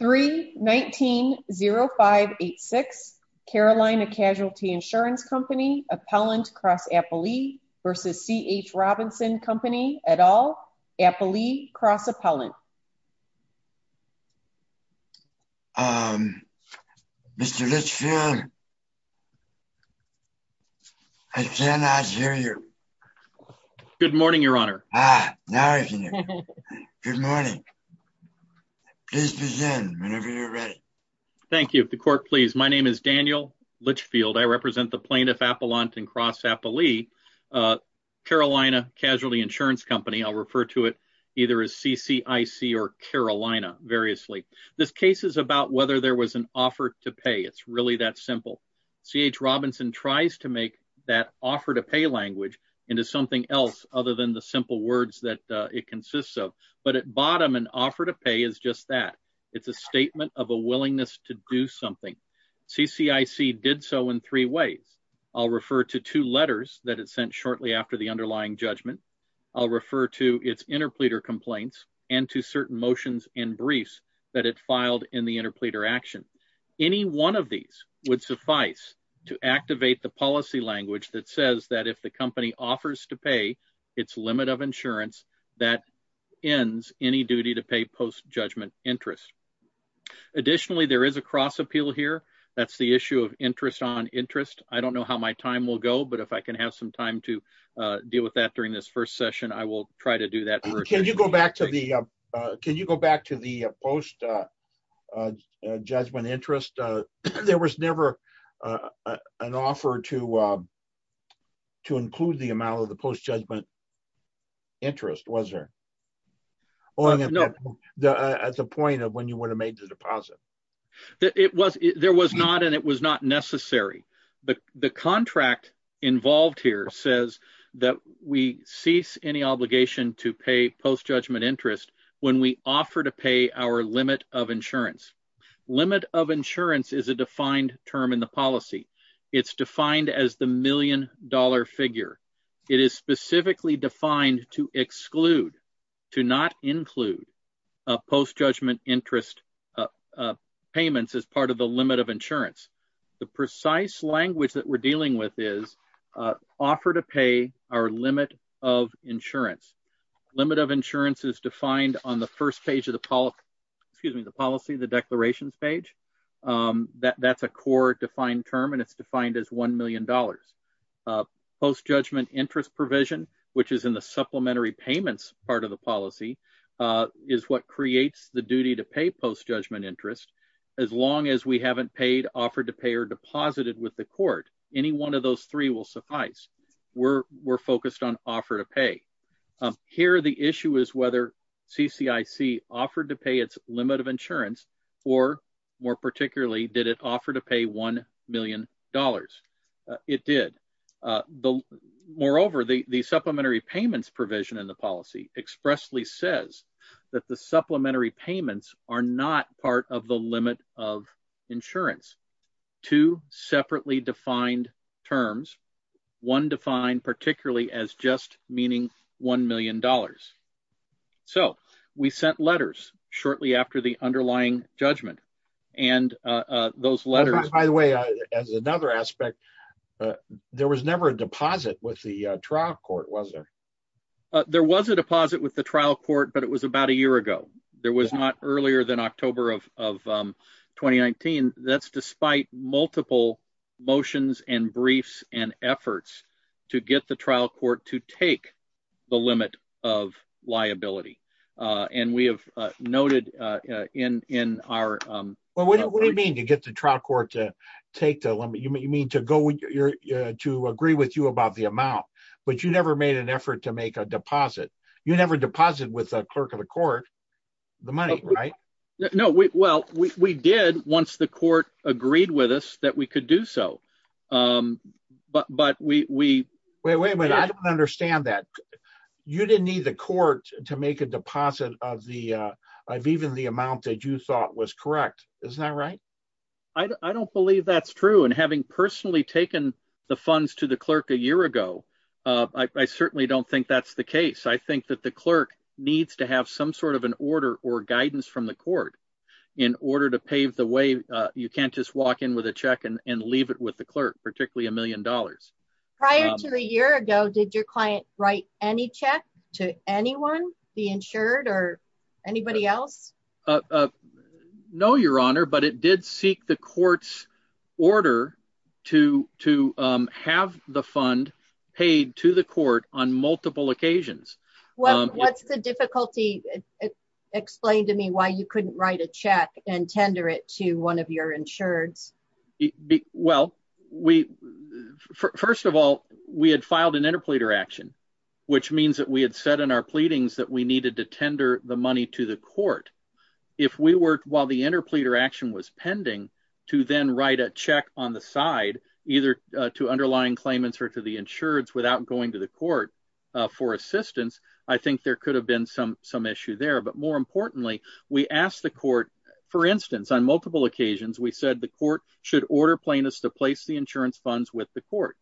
3-19-0586 Carolina Casualty Insurance Company, appellant cross appellee v. C.H. Robinson Company, et al., appellee cross appellant Um, Mr. Litchfield, I cannot hear you. Good morning, Your Honor. Thank you. The court, please. My name is Daniel Litchfield. I represent the plaintiff appellant and cross appellee. Uh, Carolina Casualty Insurance Company, I'll refer to it either as C.C.I.C. or Carolina, variously. This case is about whether there was an offer to pay. It's really that simple. C.H. Robinson tries to make that offer to pay language into something else other than the simple words that it consists of. But at bottom, an offer to pay is just that. It's a statement of a willingness to do something. C.C.I.C. did so in three ways. I'll refer to two letters that it sent shortly after the underlying judgment. I'll refer to its interpleader complaints and to certain motions and briefs that it filed in the interpleader action. Any one of these would suffice to activate the policy language that says that if the company offers to pay its limit of insurance, that ends any duty to pay post judgment interest. Additionally, there is a cross appeal here. That's the issue of interest on interest. I don't know how my time will go, but if I can have some time to deal with that during this first session, I will try to do that. Can you go back to the can you go back to the post judgment interest? There was never an offer to. To include the amount of the post judgment. Interest was there. As a point of when you would have made the deposit. It was there was not and it was not necessary. The contract involved here says that we cease any obligation to pay post judgment interest when we offer to pay our limit of insurance. Limit of insurance is a defined term in the policy. It's defined as the million dollar figure. It is specifically defined to exclude to not include post judgment interest payments as part of the limit of insurance. The precise language that we're dealing with is offer to pay our limit of insurance. Limit of insurance is defined on the first page of the policy, the policy, the declarations page. That's a core defined term, and it's defined as one million dollars post judgment interest provision, which is in the supplementary payments. Part of the policy is what creates the duty to pay post judgment interest. As long as we haven't paid, offered to pay or deposited with the court, any one of those three will suffice. We're we're focused on offer to pay here. The issue is whether CIC offered to pay its limit of insurance or more particularly, did it offer to pay one million dollars? It did. The moreover, the supplementary payments provision in the policy expressly says that the supplementary payments are not part of the limit of insurance to separately defined terms. One defined particularly as just meaning one million dollars. So we sent letters shortly after the underlying judgment and those letters, by the way, as another aspect, there was never a deposit with the trial court, was there? There was a deposit with the trial court, but it was about a year ago. There was not earlier than October of 2019. That's despite multiple motions and briefs and efforts to get the trial court to take the limit of liability. And we have noted in our. Well, what do you mean to get the trial court to take the limit? You mean to go to agree with you about the amount, but you never made an effort to make a deposit. You never deposit with a clerk of the court, the money, right? No, well, we did once the court agreed with us that we could do so. But we wait, wait, wait. I don't understand that you didn't need the court to make a deposit of the of even the amount that you thought was correct. Isn't that right? I don't believe that's true. And having personally taken the funds to the clerk a year ago, I certainly don't think that's the case. I think that the clerk needs to have some sort of an order or guidance from the court in order to pave the way. You can't just walk in with a check and leave it with the clerk, particularly a million dollars. Prior to a year ago, did your client write any check to anyone be insured or anybody else? No, Your Honor, but it did seek the court's order to to have the fund paid to the court on multiple occasions. Well, what's the difficulty? Explain to me why you couldn't write a check and tender it to one of your insureds. Well, we first of all, we had filed an interpleader action, which means that we had said in our pleadings that we needed to tender the money to the court. If we were while the interpleader action was pending to then write a check on the side, either to underlying claimants or to the insureds without going to the court for assistance. I think there could have been some some issue there. But more importantly, we asked the court, for instance, on multiple occasions, we said the court should order plaintiffs to place the insurance funds with the court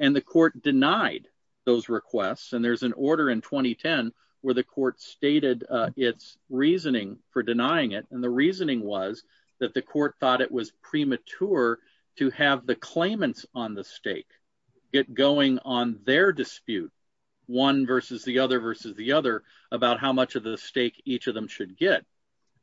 and the court denied those requests. And there's an order in 2010 where the court stated its reasoning for denying it. And the reasoning was that the court thought it was premature to have the claimants on the stake get going on their dispute one versus the other versus the other about how much of the stake each of them should get.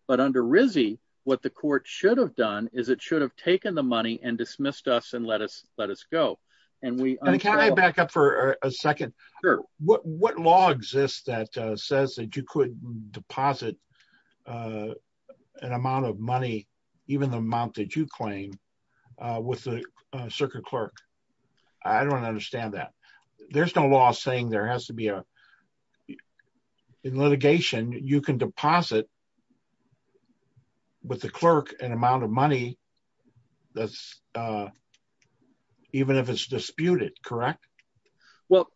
But under RISD, what the court should have done is it should have taken the money and dismissed us and let us let us go. And can I back up for a second? Sure. What law exists that says that you could deposit an amount of money, even the amount that you claim, with the circuit clerk? I don't understand that. There's no law saying there has to be a litigation, you can deposit with the clerk an amount of money that's even if it's disputed, correct? Well,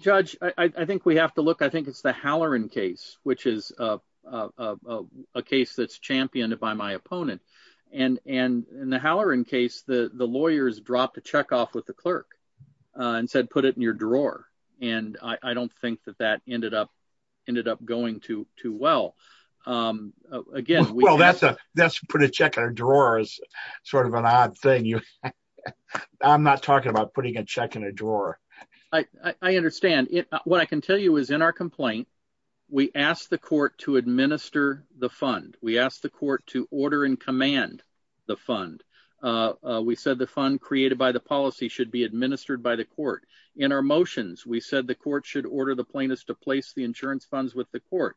Judge, I think we have to look, I think it's the Halloran case, which is a case that's championed by my opponent. And in the Halloran case, the lawyers dropped a check off with the clerk and said, put it in your drawer. And I don't think that that ended up going too well. Well, that's put a check in a drawer is sort of an odd thing. I'm not talking about putting a check in a drawer. I understand. What I can tell you is in our complaint, we asked the court to administer the fund. We asked the court to order and command the fund. We said the fund created by the policy should be administered by the court. In our motions, we said the court should order the plaintiffs to place the insurance funds with the court.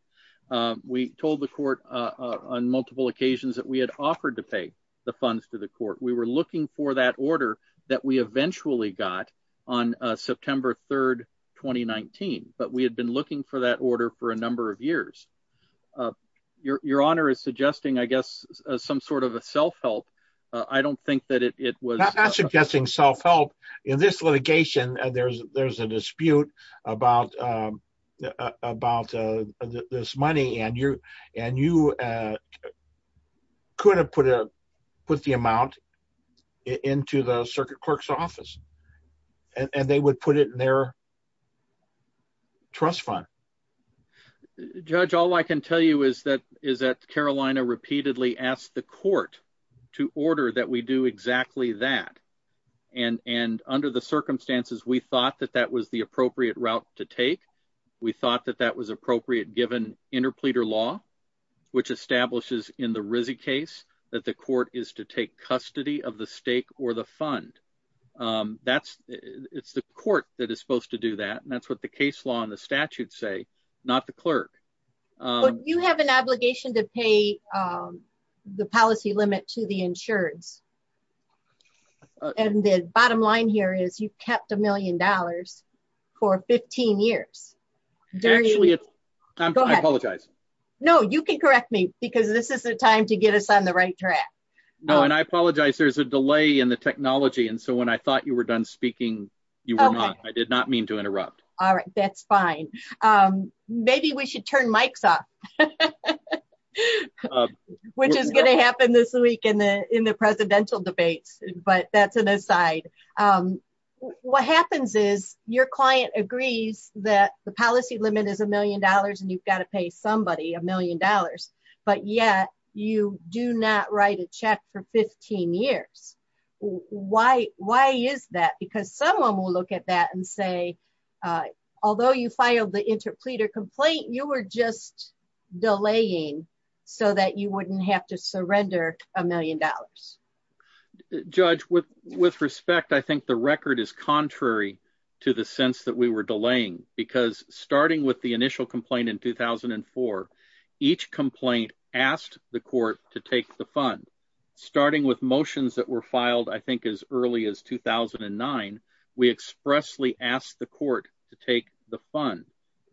We told the court on multiple occasions that we had offered to pay the funds to the court. We were looking for that order that we eventually got on September 3rd, 2019. But we had been looking for that order for a number of years. Your Honor is suggesting, I guess, some sort of a self-help. I don't think that it was. I'm not suggesting self-help. In this litigation, there's a dispute about this money. And you could have put the amount into the circuit clerk's office. And they would put it in their trust fund. Judge, all I can tell you is that Carolina repeatedly asked the court to order that we do exactly that. And under the circumstances, we thought that that was the appropriate route to take. We thought that that was appropriate given interpleader law, which establishes in the Rizzy case that the court is to take custody of the stake or the fund. It's the court that is supposed to do that. And that's what the case law and the statute say, not the clerk. But you have an obligation to pay the policy limit to the insurance. And the bottom line here is you've kept a million dollars for 15 years. Actually, I apologize. No, you can correct me because this is the time to get us on the right track. No, and I apologize. There's a delay in the technology. And so when I thought you were done speaking, you were not. I did not mean to interrupt. All right, that's fine. Maybe we should turn mics off, which is going to happen this week in the in the presidential debates. But that's an aside. What happens is your client agrees that the policy limit is a million dollars and you've got to pay somebody a million dollars. But yet you do not write a check for 15 years. Why? Why is that? Because someone will look at that and say, although you filed the interpleader complaint, you were just delaying so that you wouldn't have to surrender a million dollars. Judge, with with respect, I think the record is contrary to the sense that we were delaying, because starting with the initial complaint in 2004, each complaint asked the court to take the fund. Starting with motions that were filed, I think, as early as 2009, we expressly asked the court to take the fund.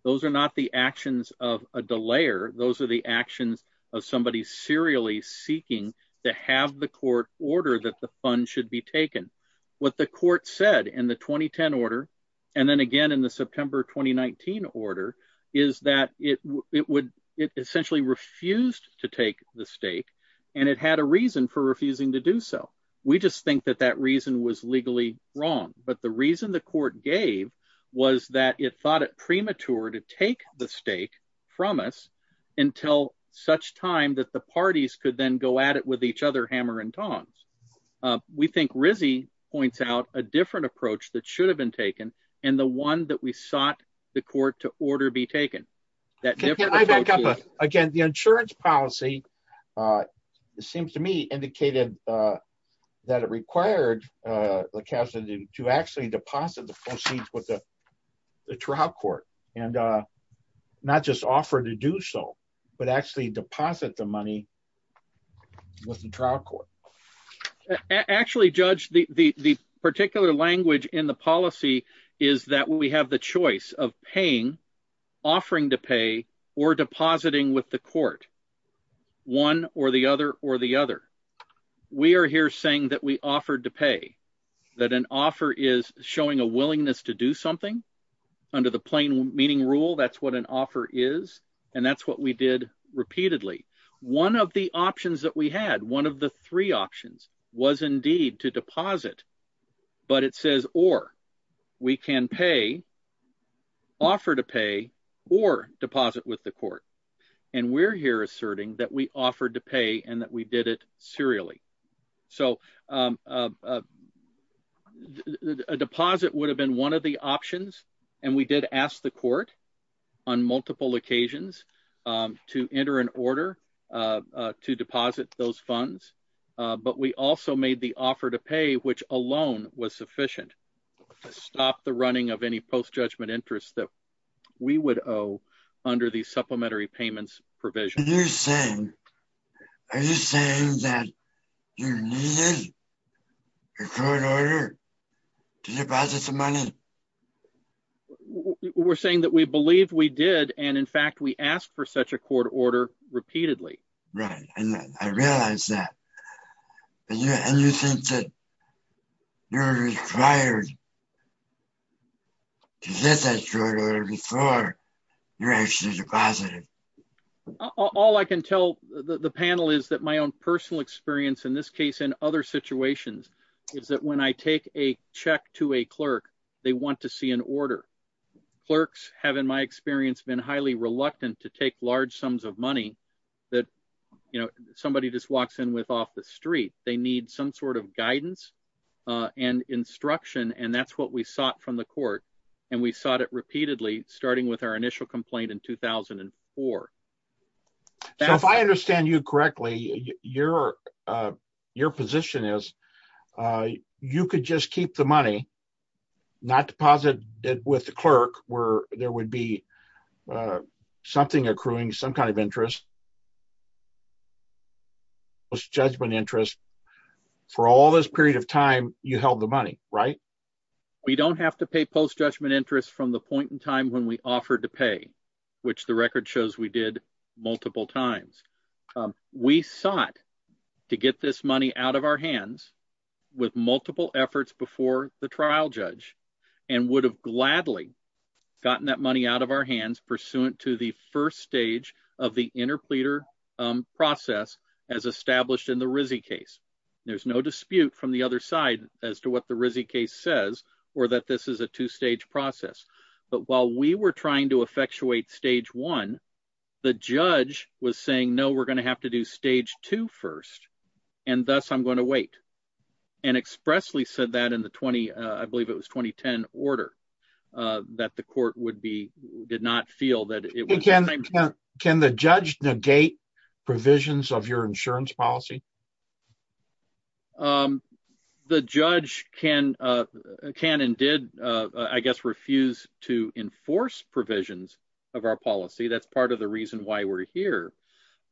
Those are not the actions of a delayer. Those are the actions of somebody serially seeking to have the court order that the fund should be taken. What the court said in the 2010 order, and then again in the September 2019 order, is that it would it essentially refused to take the stake, and it had a reason for refusing to do so. We just think that that reason was legally wrong, but the reason the court gave was that it thought it premature to take the stake from us until such time that the parties could then go at it with each other hammer and tongs. We think Rizzi points out a different approach that should have been taken, and the one that we sought the court to order be taken. Can I back up again? The insurance policy, it seems to me, indicated that it required the capital to actually deposit the proceeds with the trial court, and not just offer to do so, but actually deposit the money with the trial court. Actually, Judge, the particular language in the policy is that we have the choice of paying, offering to pay, or depositing with the court, one or the other or the other. We are here saying that we offered to pay, that an offer is showing a willingness to do something. Under the plain meaning rule, that's what an offer is, and that's what we did repeatedly. One of the options that we had, one of the three options, was indeed to deposit, but it says or. We can pay, offer to pay, or deposit with the court, and we're here asserting that we offered to pay and that we did it serially. So, a deposit would have been one of the options, and we did ask the court on multiple occasions to enter an order to deposit those funds, but we also made the offer to pay, which alone was sufficient to stop the running of any post-judgment interest that we would owe under the supplementary payments provision. Are you saying that you needed a court order to deposit the money? We're saying that we believe we did, and in fact we asked for such a court order repeatedly. Right, and I realize that, and you think that you're required to get that court order before you're actually deposited. All I can tell the panel is that my own personal experience in this case and other situations is that when I take a check to a clerk, they want to see an order. Clerks have, in my experience, been highly reluctant to take large sums of money that, you know, somebody just walks in with off the street. They need some sort of guidance and instruction, and that's what we sought from the court, and we sought it repeatedly, starting with our initial complaint in 2004. So if I understand you correctly, your position is you could just keep the money, not deposit it with the clerk, where there would be something accruing, some kind of interest, post-judgment interest. For all this period of time, you held the money, right? We don't have to pay post-judgment interest from the point in time when we offered to pay, which the record shows we did multiple times. We sought to get this money out of our hands with multiple efforts before the trial judge and would have gladly gotten that money out of our hands pursuant to the first stage of the interpleader process as established in the Rizzi case. There's no dispute from the other side as to what the Rizzi case says or that this is a two-stage process. But while we were trying to effectuate stage one, the judge was saying, no, we're going to have to do stage two first, and thus I'm going to wait, and expressly said that in the 20—I believe it was 2010—order, that the court would be—did not feel that it was— Can the judge negate provisions of your insurance policy? The judge can and did, I guess, refuse to enforce provisions of our policy. That's part of the reason why we're here.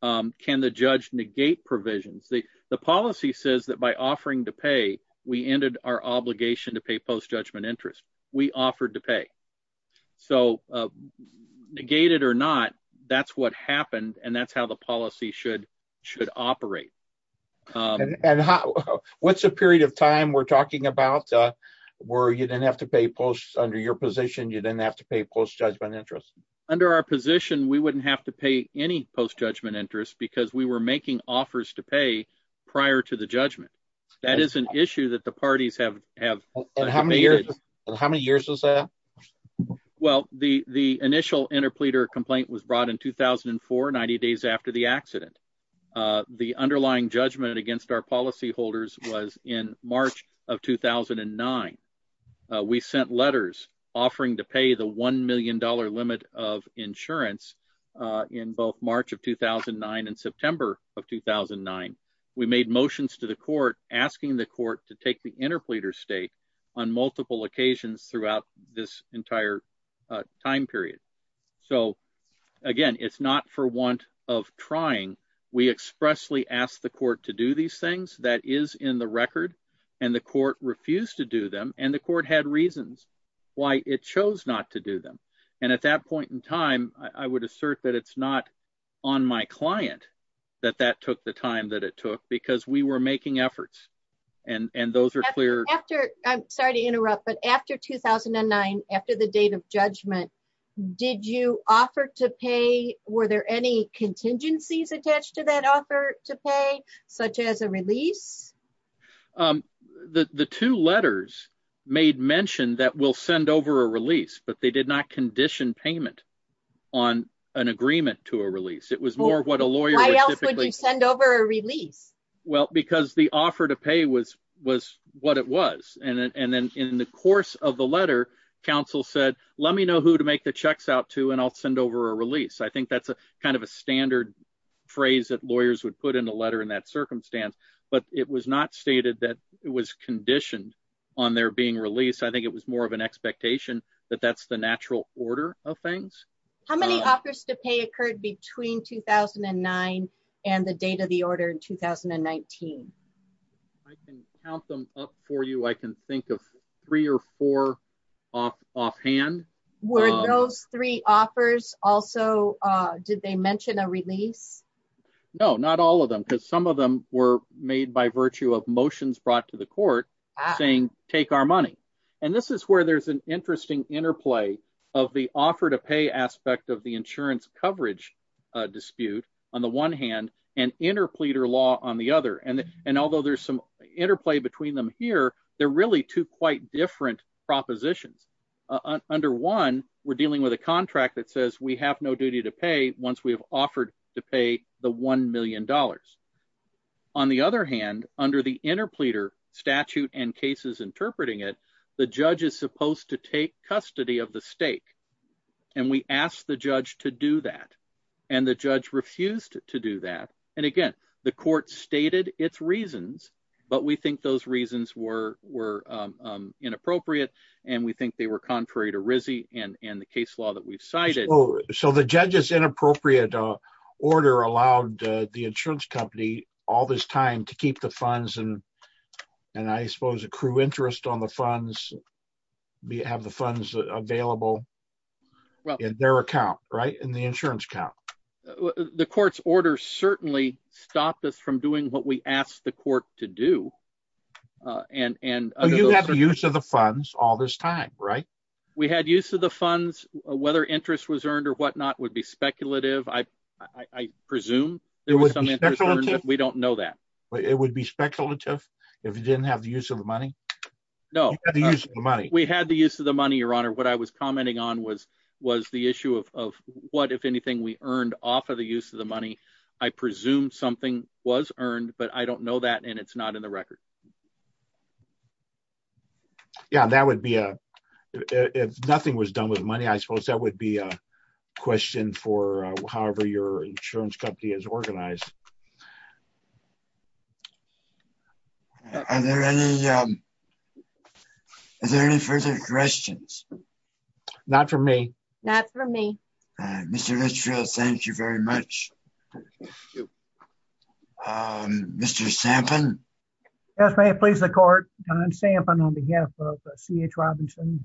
Can the judge negate provisions? The policy says that by offering to pay, we ended our obligation to pay post-judgment interest. We offered to pay. So negated or not, that's what happened, and that's how the policy should operate. And what's the period of time we're talking about where you didn't have to pay post—under your position, you didn't have to pay post-judgment interest? Under our position, we wouldn't have to pay any post-judgment interest because we were making offers to pay prior to the judgment. That is an issue that the parties have debated. And how many years was that? Well, the initial interpleader complaint was brought in 2004, 90 days after the accident. The underlying judgment against our policyholders was in March of 2009. We sent letters offering to pay the $1 million limit of insurance in both March of 2009 and September of 2009. We made motions to the court asking the court to take the interpleader state on multiple occasions throughout this entire time period. So, again, it's not for want of trying. We expressly asked the court to do these things. That is in the record. And the court refused to do them, and the court had reasons why it chose not to do them. And at that point in time, I would assert that it's not on my client that that took the time that it took because we were making efforts. I'm sorry to interrupt, but after 2009, after the date of judgment, did you offer to pay? Were there any contingencies attached to that offer to pay, such as a release? The two letters made mention that we'll send over a release, but they did not condition payment on an agreement to a release. Why else would you send over a release? Well, because the offer to pay was what it was. And then in the course of the letter, counsel said, let me know who to make the checks out to, and I'll send over a release. I think that's kind of a standard phrase that lawyers would put in a letter in that circumstance. But it was not stated that it was conditioned on there being release. I think it was more of an expectation that that's the natural order of things. How many offers to pay occurred between 2009 and the date of the order in 2019? I can count them up for you. I can think of three or four offhand. Were those three offers also, did they mention a release? No, not all of them, because some of them were made by virtue of motions brought to the court saying, take our money. And this is where there's an interesting interplay of the offer to pay aspect of the insurance coverage dispute, on the one hand, and interpleader law on the other. And although there's some interplay between them here, they're really two quite different propositions. Under one, we're dealing with a contract that says we have no duty to pay once we have offered to pay the $1 million. On the other hand, under the interpleader statute and cases interpreting it, the judge is supposed to take custody of the stake. And we asked the judge to do that. And the judge refused to do that. And again, the court stated its reasons, but we think those reasons were inappropriate. And we think they were contrary to RISD and the case law that we've cited. So the judge's inappropriate order allowed the insurance company all this time to keep the funds, and I suppose accrue interest on the funds, have the funds available in their account, right, in the insurance account. The court's order certainly stopped us from doing what we asked the court to do. You had use of the funds all this time, right? We had use of the funds. Whether interest was earned or whatnot would be speculative. I presume there was some interest earned, but we don't know that. It would be speculative if you didn't have the use of the money? No. You had the use of the money. We had the use of the money, Your Honor. What I was commenting on was the issue of what, if anything, we earned off of the use of the money. I presume something was earned, but I don't know that, and it's not in the record. Yeah, that would be, if nothing was done with money, I suppose that would be a question for however your insurance company is organized. Are there any further questions? Not from me. Not from me. Mr. Richfield, thank you very much. Thank you. Mr. Sampson. Yes, may it please the court. Don Sampson on behalf of C.H. Robinson,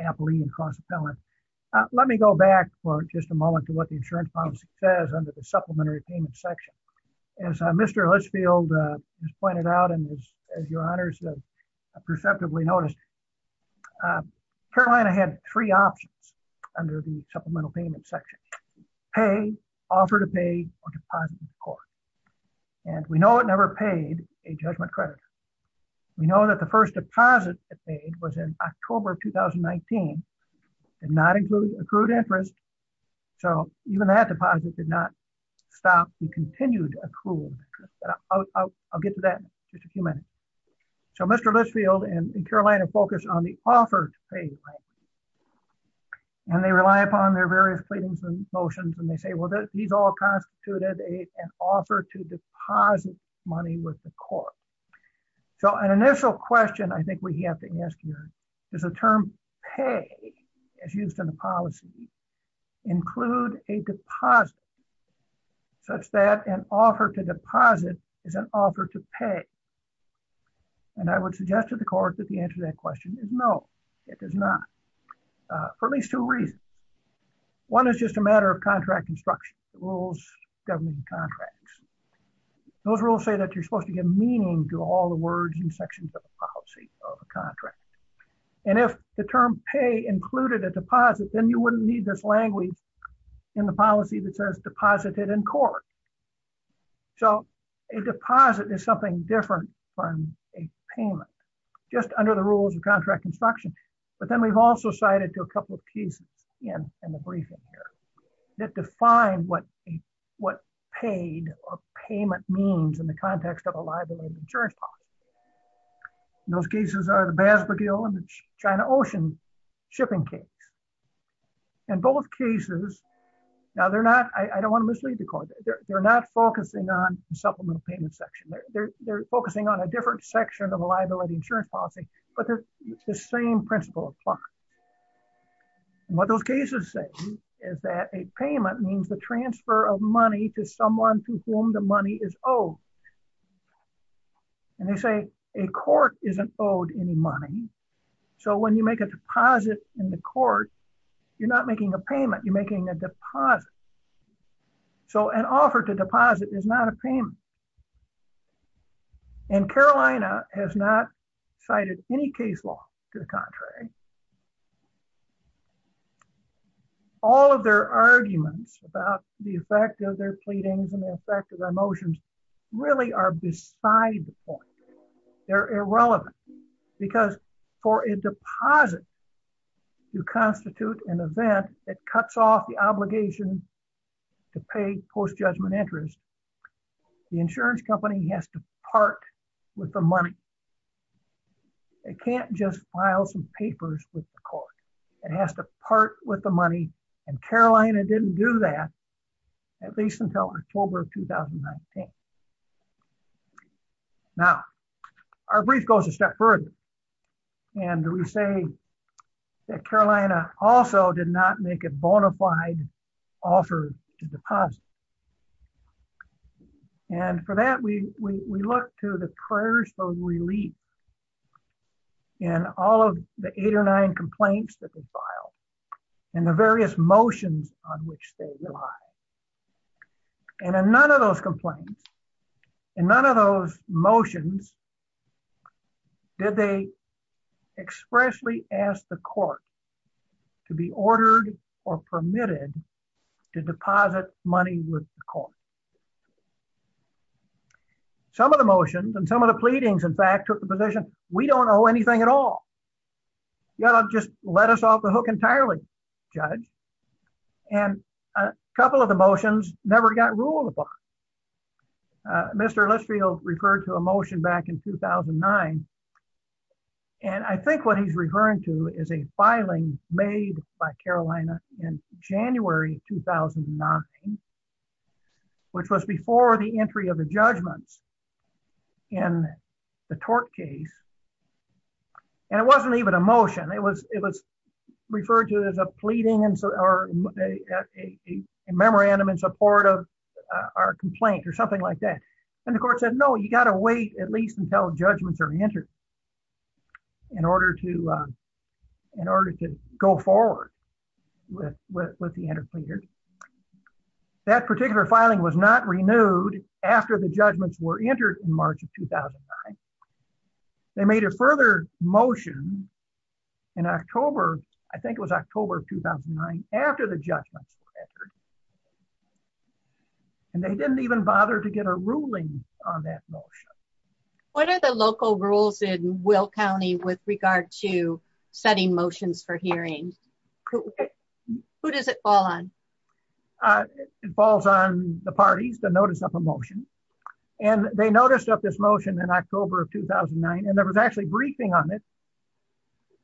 Appley & Cross Appellant. Let me go back for just a moment to what the insurance policy says under the supplementary payment section. As Mr. Richfield has pointed out and as your honors have perceptively noticed, Carolina had three options under the supplemental payment section. Pay, offer to pay, or deposit to the court. And we know it never paid a judgment creditor. We know that the first deposit it paid was in October of 2019. It did not include accrued interest, so even that deposit did not stop the continued accrual. I'll get to that in just a few minutes. So Mr. Richfield and Carolina focused on the offer to pay. And they rely upon their various pleadings and motions and they say, well, these all constituted an offer to deposit money with the court. So an initial question I think we have to ask here is the term pay as used in the policy. Include a deposit such that an offer to deposit is an offer to pay. And I would suggest to the court that the answer to that question is no, it does not. For at least two reasons. One is just a matter of contract instruction, rules governing contracts. Those rules say that you're supposed to give meaning to all the words and sections of the policy of a contract. And if the term pay included a deposit, then you wouldn't need this language in the policy that says deposited in court. So a deposit is something different from a payment just under the rules of contract instruction. But then we've also cited to a couple of cases in the briefing here that define what what paid or payment means in the context of a liability insurance policy. Those cases are the Batsberg deal and the China Ocean shipping case. And both cases, now they're not, I don't want to mislead the court. They're not focusing on the supplemental payment section. They're focusing on a different section of a liability insurance policy. But they're the same principle applies. What those cases say is that a payment means the transfer of money to someone to whom the money is owed. And they say a court isn't owed any money. So when you make a deposit in the court, you're not making a payment, you're making a deposit. So an offer to deposit is not a payment. And Carolina has not cited any case law to the contrary. All of their arguments about the effect of their pleadings and the effect of their motions really are beside the point. They're irrelevant. Because for a deposit, you constitute an event that cuts off the obligation to pay post judgment interest. The insurance company has to part with the money. It can't just file some papers with the court. It has to part with the money. And Carolina didn't do that, at least until October of 2019. Now, our brief goes a step further. And we say that Carolina also did not make a bona fide offer to deposit. And for that, we look to the prayers for relief in all of the eight or nine complaints that were filed and the various motions on which they rely. And in none of those complaints, in none of those motions, did they expressly ask the court to be ordered or permitted to deposit money with the court. Some of the motions and some of the pleadings, in fact, took the position, we don't owe anything at all. You ought to just let us off the hook entirely, judge. And a couple of the motions never got ruled upon. Mr. Listfield referred to a motion back in 2009. And I think what he's referring to is a filing made by Carolina in January 2009, which was before the entry of the judgments in the tort case. And it wasn't even a motion. It was it was referred to as a pleading or a memorandum in support of our complaint or something like that. And the court said, no, you got to wait at least until judgments are entered. In order to in order to go forward with the interpreter. That particular filing was not renewed after the judgments were entered in March of 2009. They made a further motion in October. I think it was October of 2009 after the judgments were entered. And they didn't even bother to get a ruling on that motion. What are the local rules in Will County with regard to setting motions for hearings? Who does it fall on? It falls on the parties to notice of a motion. And they noticed up this motion in October of 2009. And there was actually briefing on it.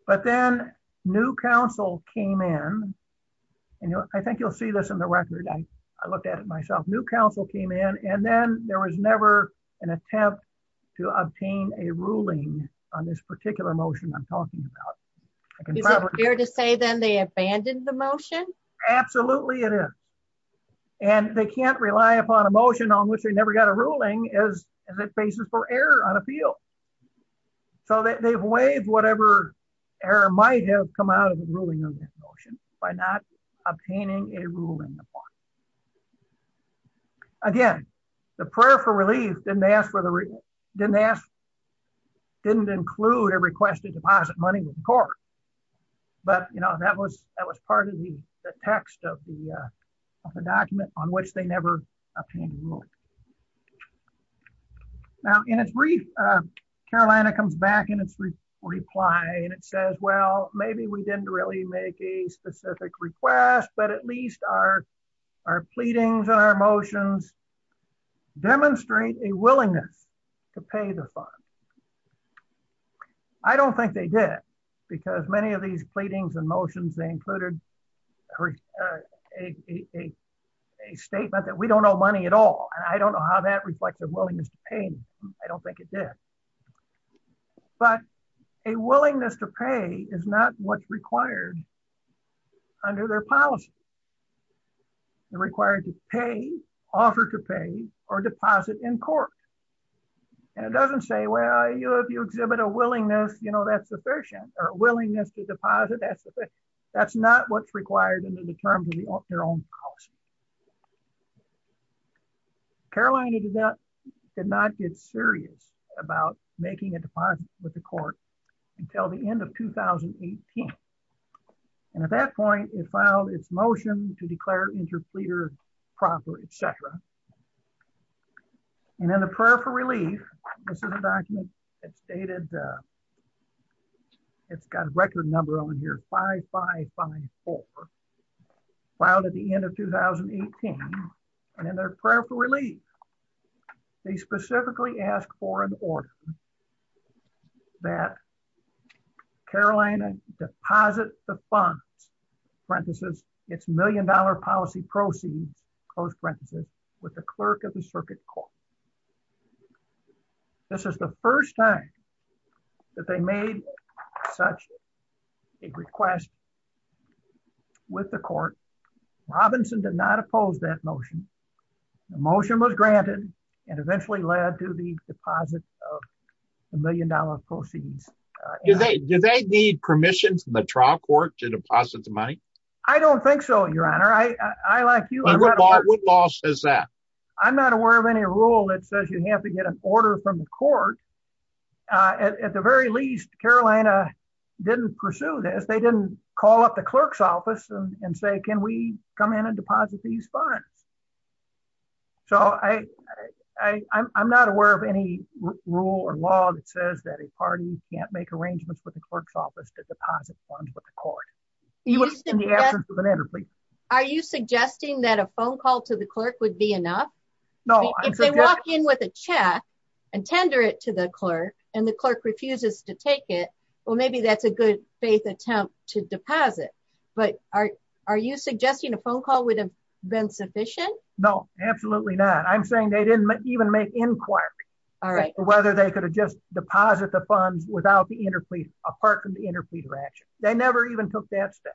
But then new counsel came in. And I think you'll see this in the record. I looked at it myself. New counsel came in and then there was never an attempt to obtain a ruling on this particular motion I'm talking about. Is it fair to say then they abandoned the motion? Absolutely. It is. And they can't rely upon a motion on which they never got a ruling as a basis for error on appeal. So they've waived whatever error might have come out of the ruling on this motion by not obtaining a ruling. Again, the prayer for relief didn't ask for the didn't ask didn't include a request to deposit money with the court. But, you know, that was that was part of the text of the document on which they never obtained a ruling. Now, in its brief, Carolina comes back in its reply and it says, well, maybe we didn't really make a specific request. But at least our our pleadings and our motions demonstrate a willingness to pay the fine. I don't think they did, because many of these pleadings and motions, they included a statement that we don't know money at all. I don't know how that reflects their willingness to pay. I don't think it did. But a willingness to pay is not what's required under their policy. They're required to pay, offer to pay or deposit in court. And it doesn't say, well, if you exhibit a willingness, you know, that's sufficient or a willingness to deposit. That's that's not what's required in the terms of their own policy. Carolina did not get serious about making a deposit with the court until the end of 2018. And at that point, it filed its motion to declare interpleader proper, etc. And then the prayer for relief. This is a document that stated. It's got a record number on here. Five, five, five, four. Filed at the end of 2018. And then their prayer for relief. They specifically asked for an order that Carolina deposit the funds, parenthesis, it's million dollar policy proceeds, close parenthesis, with the clerk of the circuit court. This is the first time that they made such a request with the court. Robinson did not oppose that motion. The motion was granted and eventually led to the deposit of a million dollar proceeds. Do they need permission from the trial court to deposit the money? I don't think so, Your Honor. I like you. What law says that? I'm not aware of any rule that says you have to get an order from the court. At the very least, Carolina didn't pursue this. They didn't call up the clerk's office and say, can we come in and deposit these funds? So, I'm not aware of any rule or law that says that a party can't make arrangements with the clerk's office to deposit funds with the court. Are you suggesting that a phone call to the clerk would be enough? No. If they walk in with a check and tender it to the clerk and the clerk refuses to take it, well, maybe that's a good faith attempt to deposit. But are you suggesting a phone call would have been sufficient? No, absolutely not. I'm saying they didn't even make inquiries. All right. Whether they could have just deposited the funds apart from the interpleaser action. They never even took that step.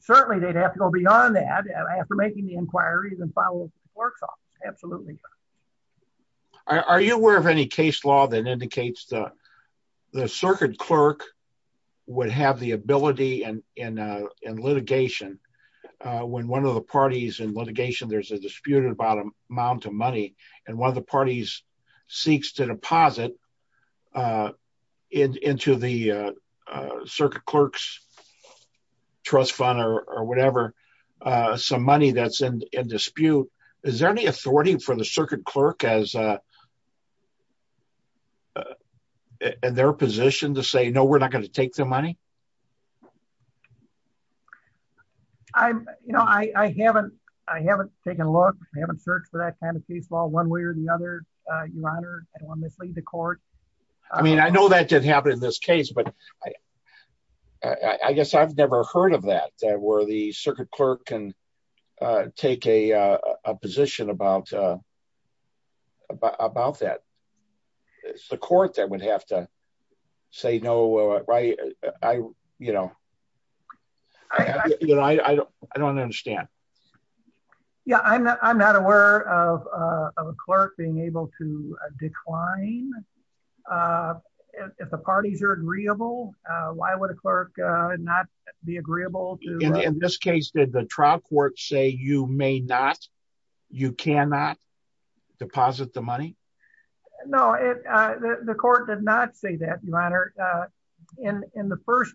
Certainly, they'd have to go beyond that after making the inquiries and following the clerk's office. Absolutely. Are you aware of any case law that indicates the circuit clerk would have the ability in litigation when one of the parties in litigation, there's a disputed amount of money and one of the parties seeks to deposit into the circuit clerk's trust fund or whatever, some money that's in dispute? Is there any authority for the circuit clerk in their position to say, no, we're not going to take their money? I haven't taken a look. I haven't searched for that kind of case law one way or the other, Your Honor. I don't want to mislead the court. I mean, I know that did happen in this case, but I guess I've never heard of that, where the circuit clerk can take a position about that. The court that would have to say, no, I don't understand. Yeah, I'm not aware of a clerk being able to decline if the parties are agreeable. Why would a clerk not be agreeable? In this case, did the trial court say you may not, you cannot deposit the money? No, the court did not say that, Your Honor. In the first,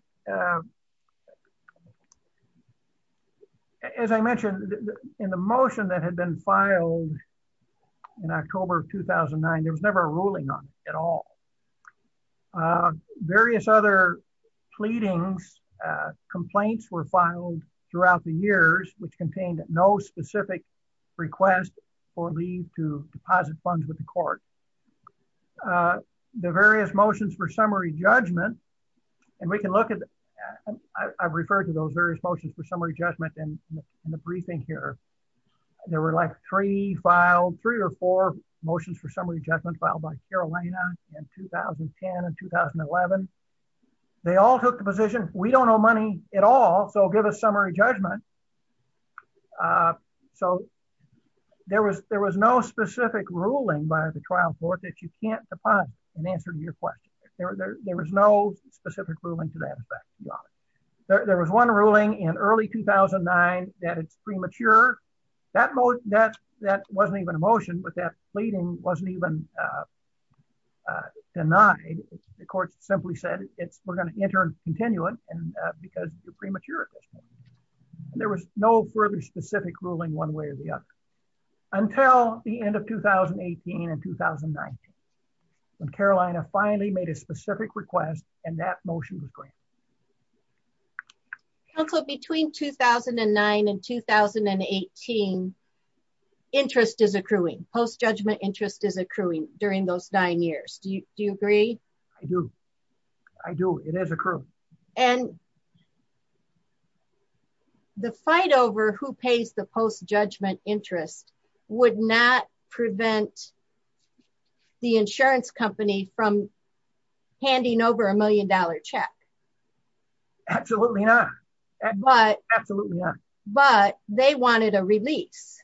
as I mentioned in the motion that had been filed in October of 2009, there was never a ruling on it at all. Various other pleadings, complaints were filed throughout the years, which contained no specific request for leave to deposit funds with the court. The various motions for summary judgment, and we can look at, I've referred to those various motions for summary judgment in the briefing here. There were like three filed, three or four motions for summary judgment filed by Carolina in 2010 and 2011. They all took the position, we don't owe money at all, so give us summary judgment. So there was no specific ruling by the trial court that you can't deposit in answer to your question. There was no specific ruling to that effect, Your Honor. There was one ruling in early 2009 that it's premature. That wasn't even a motion, but that pleading wasn't even denied. The court simply said it's, we're going to enter into a continuum because it's premature. There was no further specific ruling one way or the other. Until the end of 2018 and 2019, when Carolina finally made a specific request, and that motion was granted. Also between 2009 and 2018 interest is accruing post judgment interest is accruing during those nine years. Do you agree. I do. I do it as a crew, and the fight over who pays the post judgment interest would not prevent the insurance company from handing over a million dollar check. Absolutely not. But, absolutely. But they wanted a release.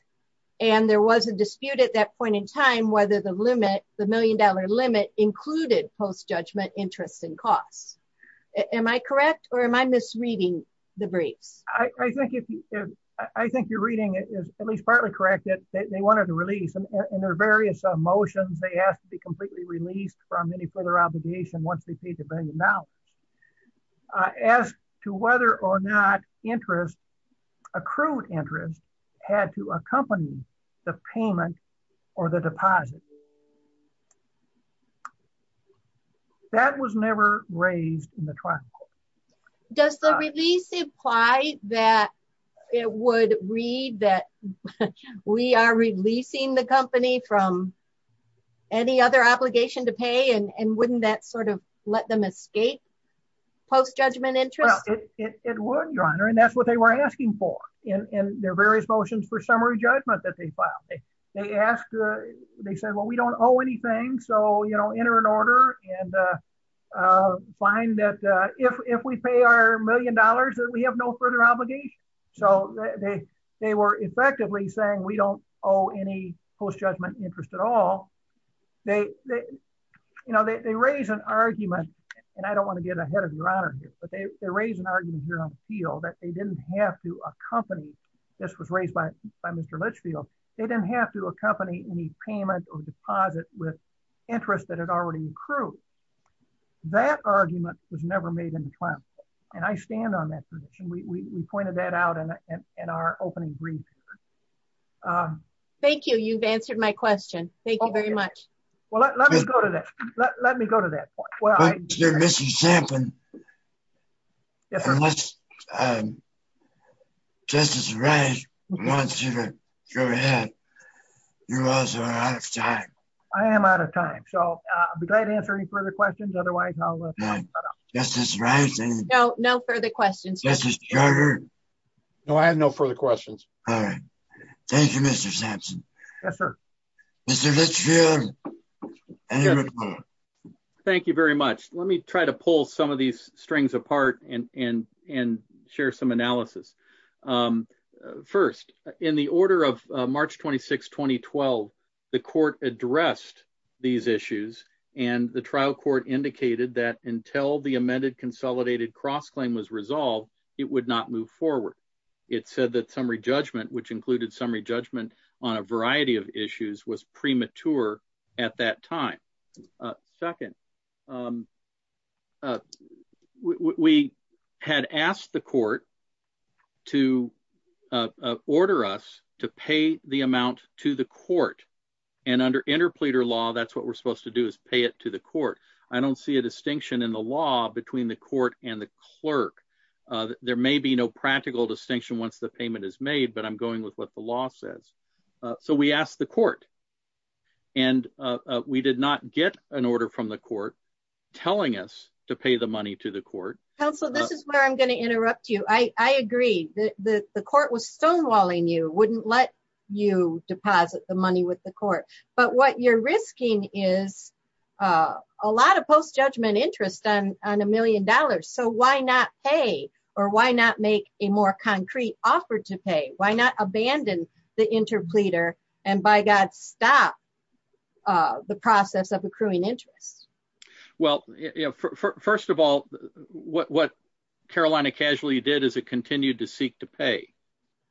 And there was a dispute at that point in time whether the limit, the million dollar limit included post judgment interest and costs. Am I correct or am I misreading the briefs, I think if I think you're reading it is at least partly correct that they wanted to release and their various motions they asked to be completely released from any further obligation once they paid the value. Now, as to whether or not interest accrued interest had to accompany the payment, or the deposit. That was never raised in the trial. Does the release imply that it would read that we are releasing the company from any other obligation to pay and wouldn't that sort of let them escape post judgment interest. And that's what they were asking for in their various motions for summary judgment that they filed. They asked, they said well we don't owe anything so you know enter an order and find that if we pay our million dollars that we have no further obligation. So, they, they were effectively saying we don't owe any post judgment interest at all. You know they raise an argument, and I don't want to get ahead of your honor here but they raise an argument here on the field that they didn't have to accompany. This was raised by by Mr Litchfield, they didn't have to accompany any payment or deposit with interest that had already accrued. That argument was never made in class. And I stand on that tradition we pointed that out in our opening brief. Thank you. You've answered my question. Thank you very much. Well, let me go to that. Let me go to that point. Well, you're missing something. Unless Justice Wright wants you to go ahead. You also are out of time. I am out of time so I'll be glad to answer any further questions otherwise I'll let Justice Wright. No, no further questions. No, I have no further questions. Thank you, Mr. Yes, sir. Mr. Thank you very much. Let me try to pull some of these strings apart and and and share some analysis. First, in the order of March 26 2012, the court addressed these issues, and the trial court indicated that until the amended consolidated cross claim was resolved, it would not move forward. It said that summary judgment which included summary judgment on a variety of issues was premature. At that time. Second, we had asked the court to order us to pay the amount to the court. And under interpleader law that's what we're supposed to do is pay it to the court. I don't see a distinction in the law between the court and the clerk. There may be no practical distinction once the payment is made but I'm going with what the law says. So we asked the court. And we did not get an order from the court, telling us to pay the money to the court. So this is where I'm going to interrupt you I agree that the court was stonewalling you wouldn't let you deposit the money with the court, but what you're risking is a lot of post judgment on a million dollars so why not pay, or why not make a more concrete offer to pay, why not abandon the interpleader, and by God stop the process of accruing interest. Well, first of all, what what Carolina casually did is it continued to seek to pay,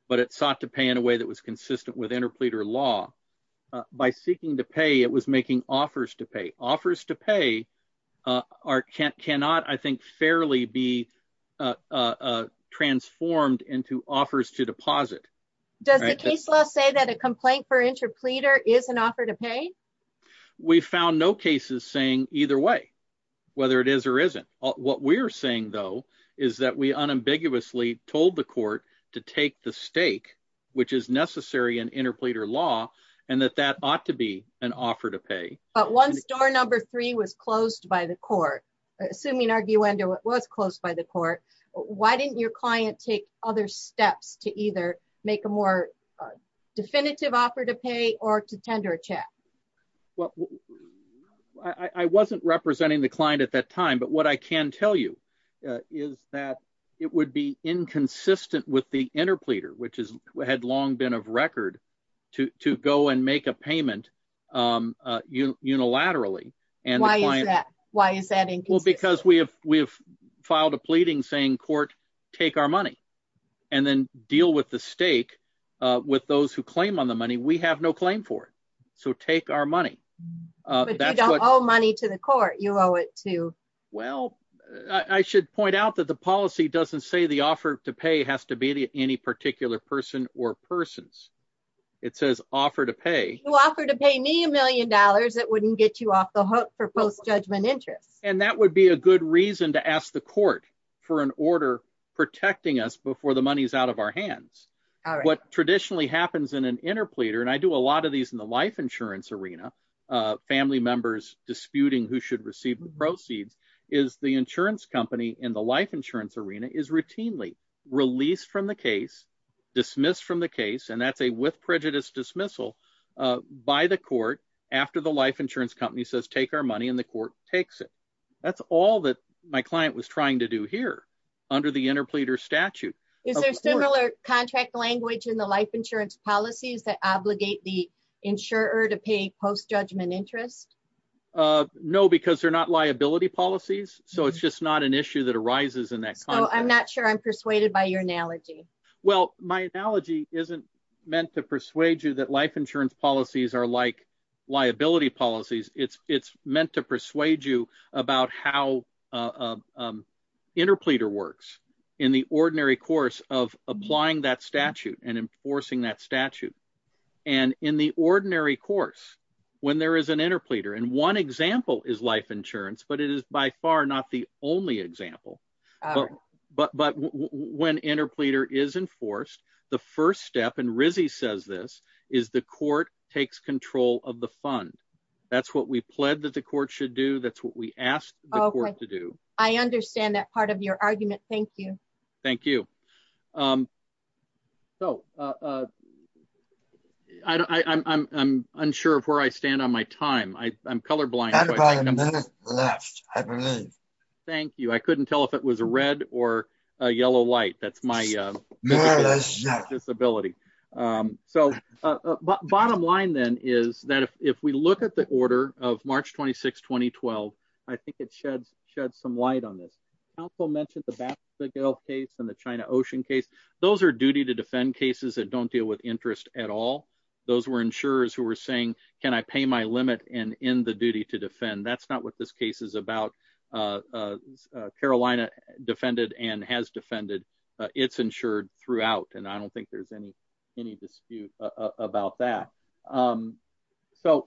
but it sought to pay in a way that was consistent with interpleader law by seeking to pay it was making offers to pay offers to pay our can't cannot I think fairly be transformed into offers to deposit. Does it say that a complaint for interpleader is an offer to pay. We found no cases saying either way, whether it is or isn't what we're saying though, is that we unambiguously told the court to take the stake, which is necessary and interpleader law, and that that ought to be an offer to pay, but one store number three was closed by the court, assuming argue under what was closed by the court. Why didn't your client take other steps to either make a more definitive offer to pay or to tender a check. Well, I wasn't representing the client at that time but what I can tell you is that it would be inconsistent with the interpleader which is had long been of record to go and make a payment. Unilaterally, and why is that why is that well because we have, we have filed a pleading saying court, take our money, and then deal with the stake with those who claim on the money we have no claim for it. So take our money. Oh money to the court you owe it to. Well, I should point out that the policy doesn't say the offer to pay has to be any particular person or persons. It says offer to pay offer to pay me a million dollars it wouldn't get you off the hook for post judgment interest, and that would be a good reason to ask the court for an order, protecting us before the money's out of our hands. What traditionally happens in an interpleader and I do a lot of these in the life insurance arena family members disputing who should receive the proceeds is the insurance company in the life insurance arena is routinely released from the case dismissed from the case and that's a with prejudice dismissal by the court. After the life insurance company says take our money in the court, takes it. That's all that my client was trying to do here. Under the interpleader statute is similar contract language in the life insurance policies that obligate the insurer to pay post judgment interest. No, because they're not liability policies, so it's just not an issue that arises in that so I'm not sure I'm persuaded by your analogy. Well, my analogy isn't meant to persuade you that life insurance policies are like liability policies, it's, it's meant to persuade you about how interpleader works in the ordinary course of applying that statute and enforcing that statute. And in the ordinary course, when there is an interpleader and one example is life insurance but it is by far not the only example. But when interpleader is enforced. The first step and Rizzi says this is the court takes control of the fund. That's what we pled that the court should do that's what we asked to do. I understand that part of your argument. Thank you. Thank you. So, I'm unsure of where I stand on my time I'm colorblind. Left. Thank you. I couldn't tell if it was a red or yellow light that's my disability. So, bottom line then is that if we look at the order of March 26 2012, I think it sheds shed some light on this council mentioned the battle of the Gulf case and the China Ocean case. Those are duty to defend cases that don't deal with interest at all. Those were insurers who were saying, can I pay my limit and in the duty to defend that's not what this case is about. Carolina defended and has defended it's insured throughout and I don't think there's any, any dispute about that. So,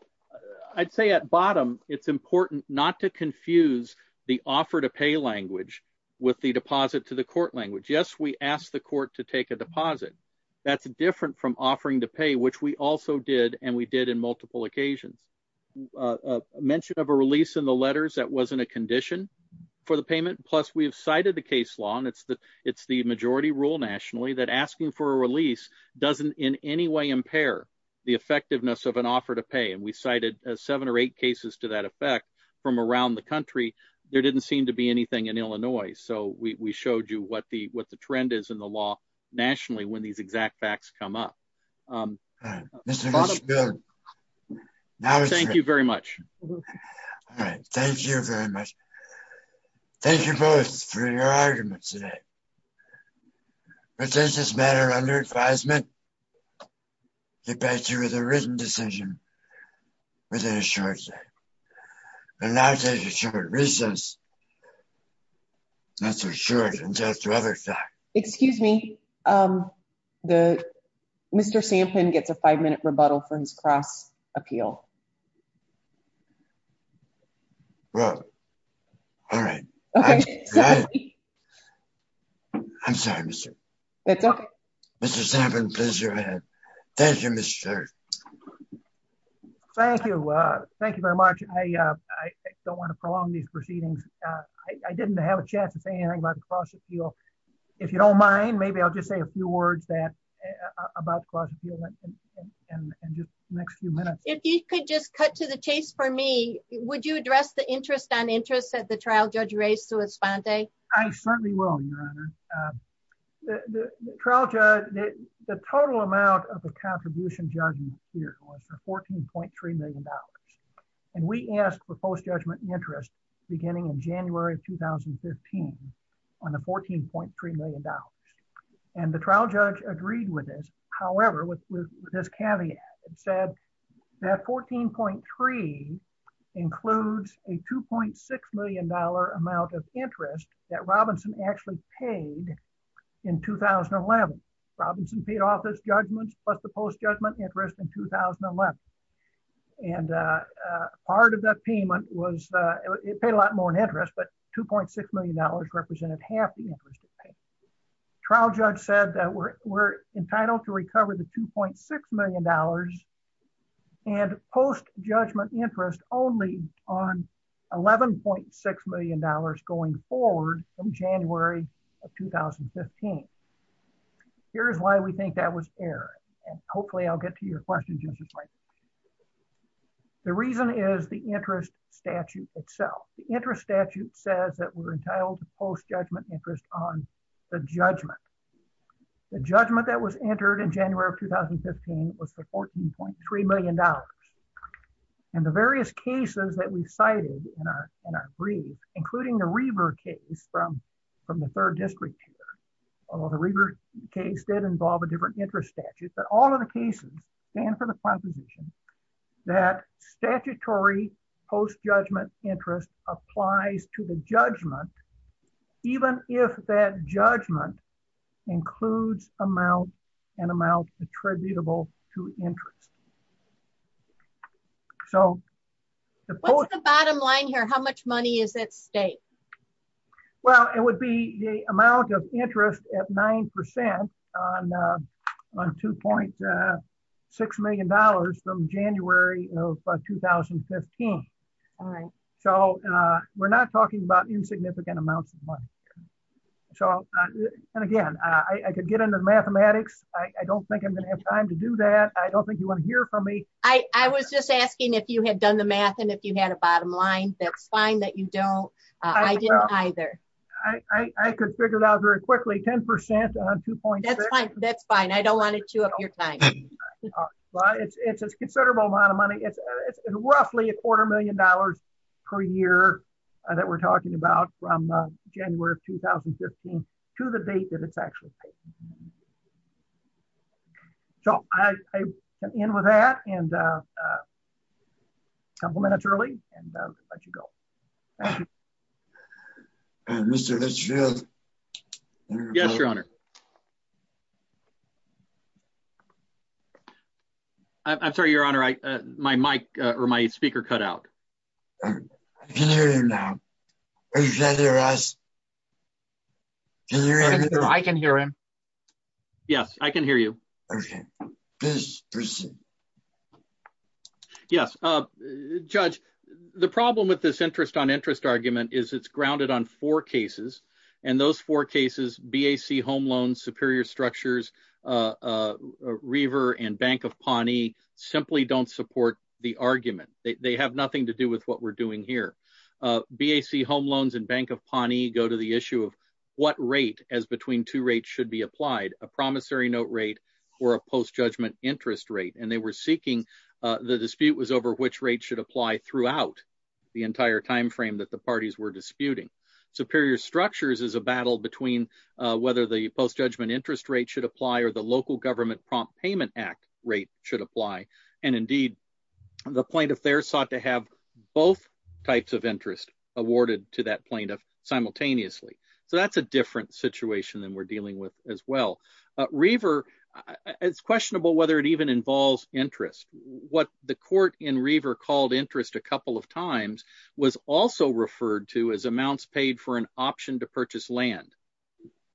I'd say at bottom, it's important not to confuse the offer to pay language with the deposit to the court language yes we asked the court to take a deposit. That's different from offering to pay which we also did and we did in multiple occasions mentioned of a release in the letters that wasn't a condition for the payment plus we've cited the case law and it's the, it's the majority rule nationally that asking for a release these exact facts come up. Now, thank you very much. Thank you very much. Thank you both for your argument today. Does this matter under advisement. The better with a written decision with insurance. And now take a short recess. That's for sure. Excuse me. The. Mr Samplin gets a five minute rebuttal for his cross appeal. Well, all right. I'm sorry, sir. It's up. This is having pleasure. Thank you, Mr. Thank you. Thank you very much. I don't want to prolong these proceedings. I didn't have a chance to say anything about the cross appeal. If you don't mind maybe I'll just say a few words that about. And just next few minutes, if you could just cut to the chase for me, would you address the interest on interest at the trial judge race to respond day. I certainly will. The trial judge that the total amount of the contribution judgment here was $14.3 million. And we asked for post judgment interest, beginning in January 2015 on a $14.3 million. And the trial judge agreed with this, however, with this caveat and said that 14.3 includes a $2.6 million amount of interest that Robinson actually paid in 2011 Robinson paid off his judgments, but the post judgment interest in 2011. And part of that payment was it paid a lot more than interest but $2.6 million represented half the interest. trial judge said that we're, we're entitled to recover the $2.6 million. And post judgment interest only on $11.6 million going forward from January of 2015. Here's why we think that was error, and hopefully I'll get to your question. The reason is the interest statute itself, the interest statute says that we're entitled to post judgment interest on the judgment, the judgment that was entered in January of 2015 was $14.3 million. And the various cases that we cited in our, in our brief, including the river case from from the third district. case did involve a different interest statute, but all of the cases, and for the proposition that statutory post judgment interest applies to the judgment. Even if that judgment includes amount and amount attributable to interest. So, the bottom line here how much money is it state. Well, it would be the amount of interest at 9% on $2.6 million from January of 2015. So, we're not talking about insignificant amounts of money. So, and again, I could get into mathematics, I don't think I'm going to have time to do that I don't think you want to hear from me. I was just asking if you had done the math and if you had a bottom line, that's fine that you don't. I didn't either. I could figure it out very quickly 10% on two points. That's fine. I don't want to chew up your time. It's a considerable amount of money it's roughly a quarter million dollars per year that we're talking about from January of 2015, to the date that it's actually. So, I end with that and couple minutes early, and let you go. Mr. Yes, Your Honor. I'm sorry Your Honor I my mic, or my speaker cut out. Now, I can hear him. Yes, I can hear you. Yes. Judge. The problem with this interest on interest argument is it's grounded on four cases, and those four cases BAC home loans superior structures river and Bank of Pawnee simply don't support the argument, they have nothing to do with what we're doing here. BAC home loans and Bank of Pawnee go to the issue of what rate as between two rates should be applied a promissory note rate or a post judgment interest rate and they were seeking the dispute was over which rate should apply throughout the entire So that's a different situation and we're dealing with as well. River is questionable whether it even involves interest, what the court in river called interest a couple of times was also referred to as amounts paid for an option to purchase land.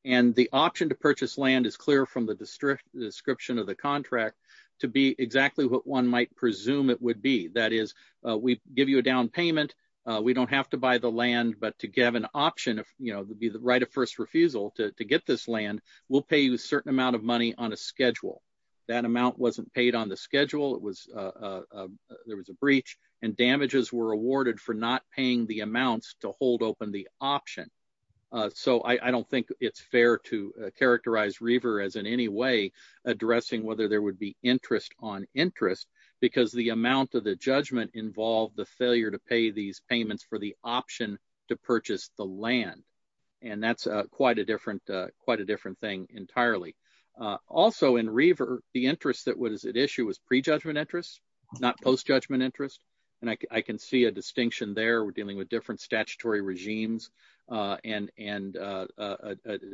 And the option to purchase land is clear from the district description of the contract to be exactly what one might presume it would be that is, we give you a down payment. We don't have to buy the land but to give an option of, you know, the right of first refusal to get this land will pay you a certain amount of money on a schedule that amount wasn't paid on the schedule it was. There was a breach and damages were awarded for not paying the amounts to hold open the option. So I don't think it's fair to characterize river as in any way, addressing whether there would be interest on interest, because the amount of the judgment involved the failure to pay these payments for the option to purchase the land. And that's quite a different, quite a different thing entirely. Also in river, the interest that was at issue was pre judgment interest, not post judgment interest, and I can see a distinction there we're dealing with different statutory regimes and and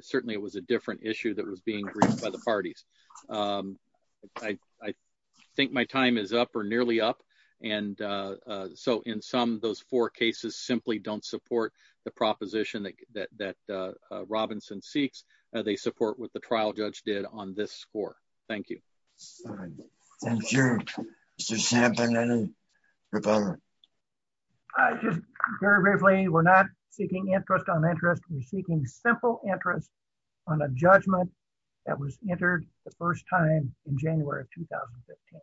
certainly it was a different issue that was being agreed by the parties. I think my time is up or nearly up. And so in some those four cases simply don't support the proposition that that Robinson seeks, they support with the trial judge did on this score. Thank you. Sure. Very briefly, we're not seeking interest on interest we're seeking simple interest on a judgment that was entered the first time in January of 2015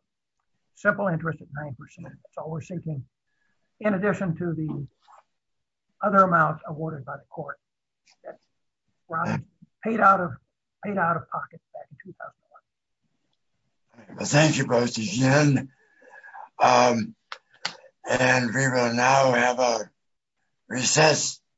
simple interest at 9% so we're seeking. In addition to the other amount awarded by the court paid out of paid out of pocket. Thank you both again. And we will now have a recess.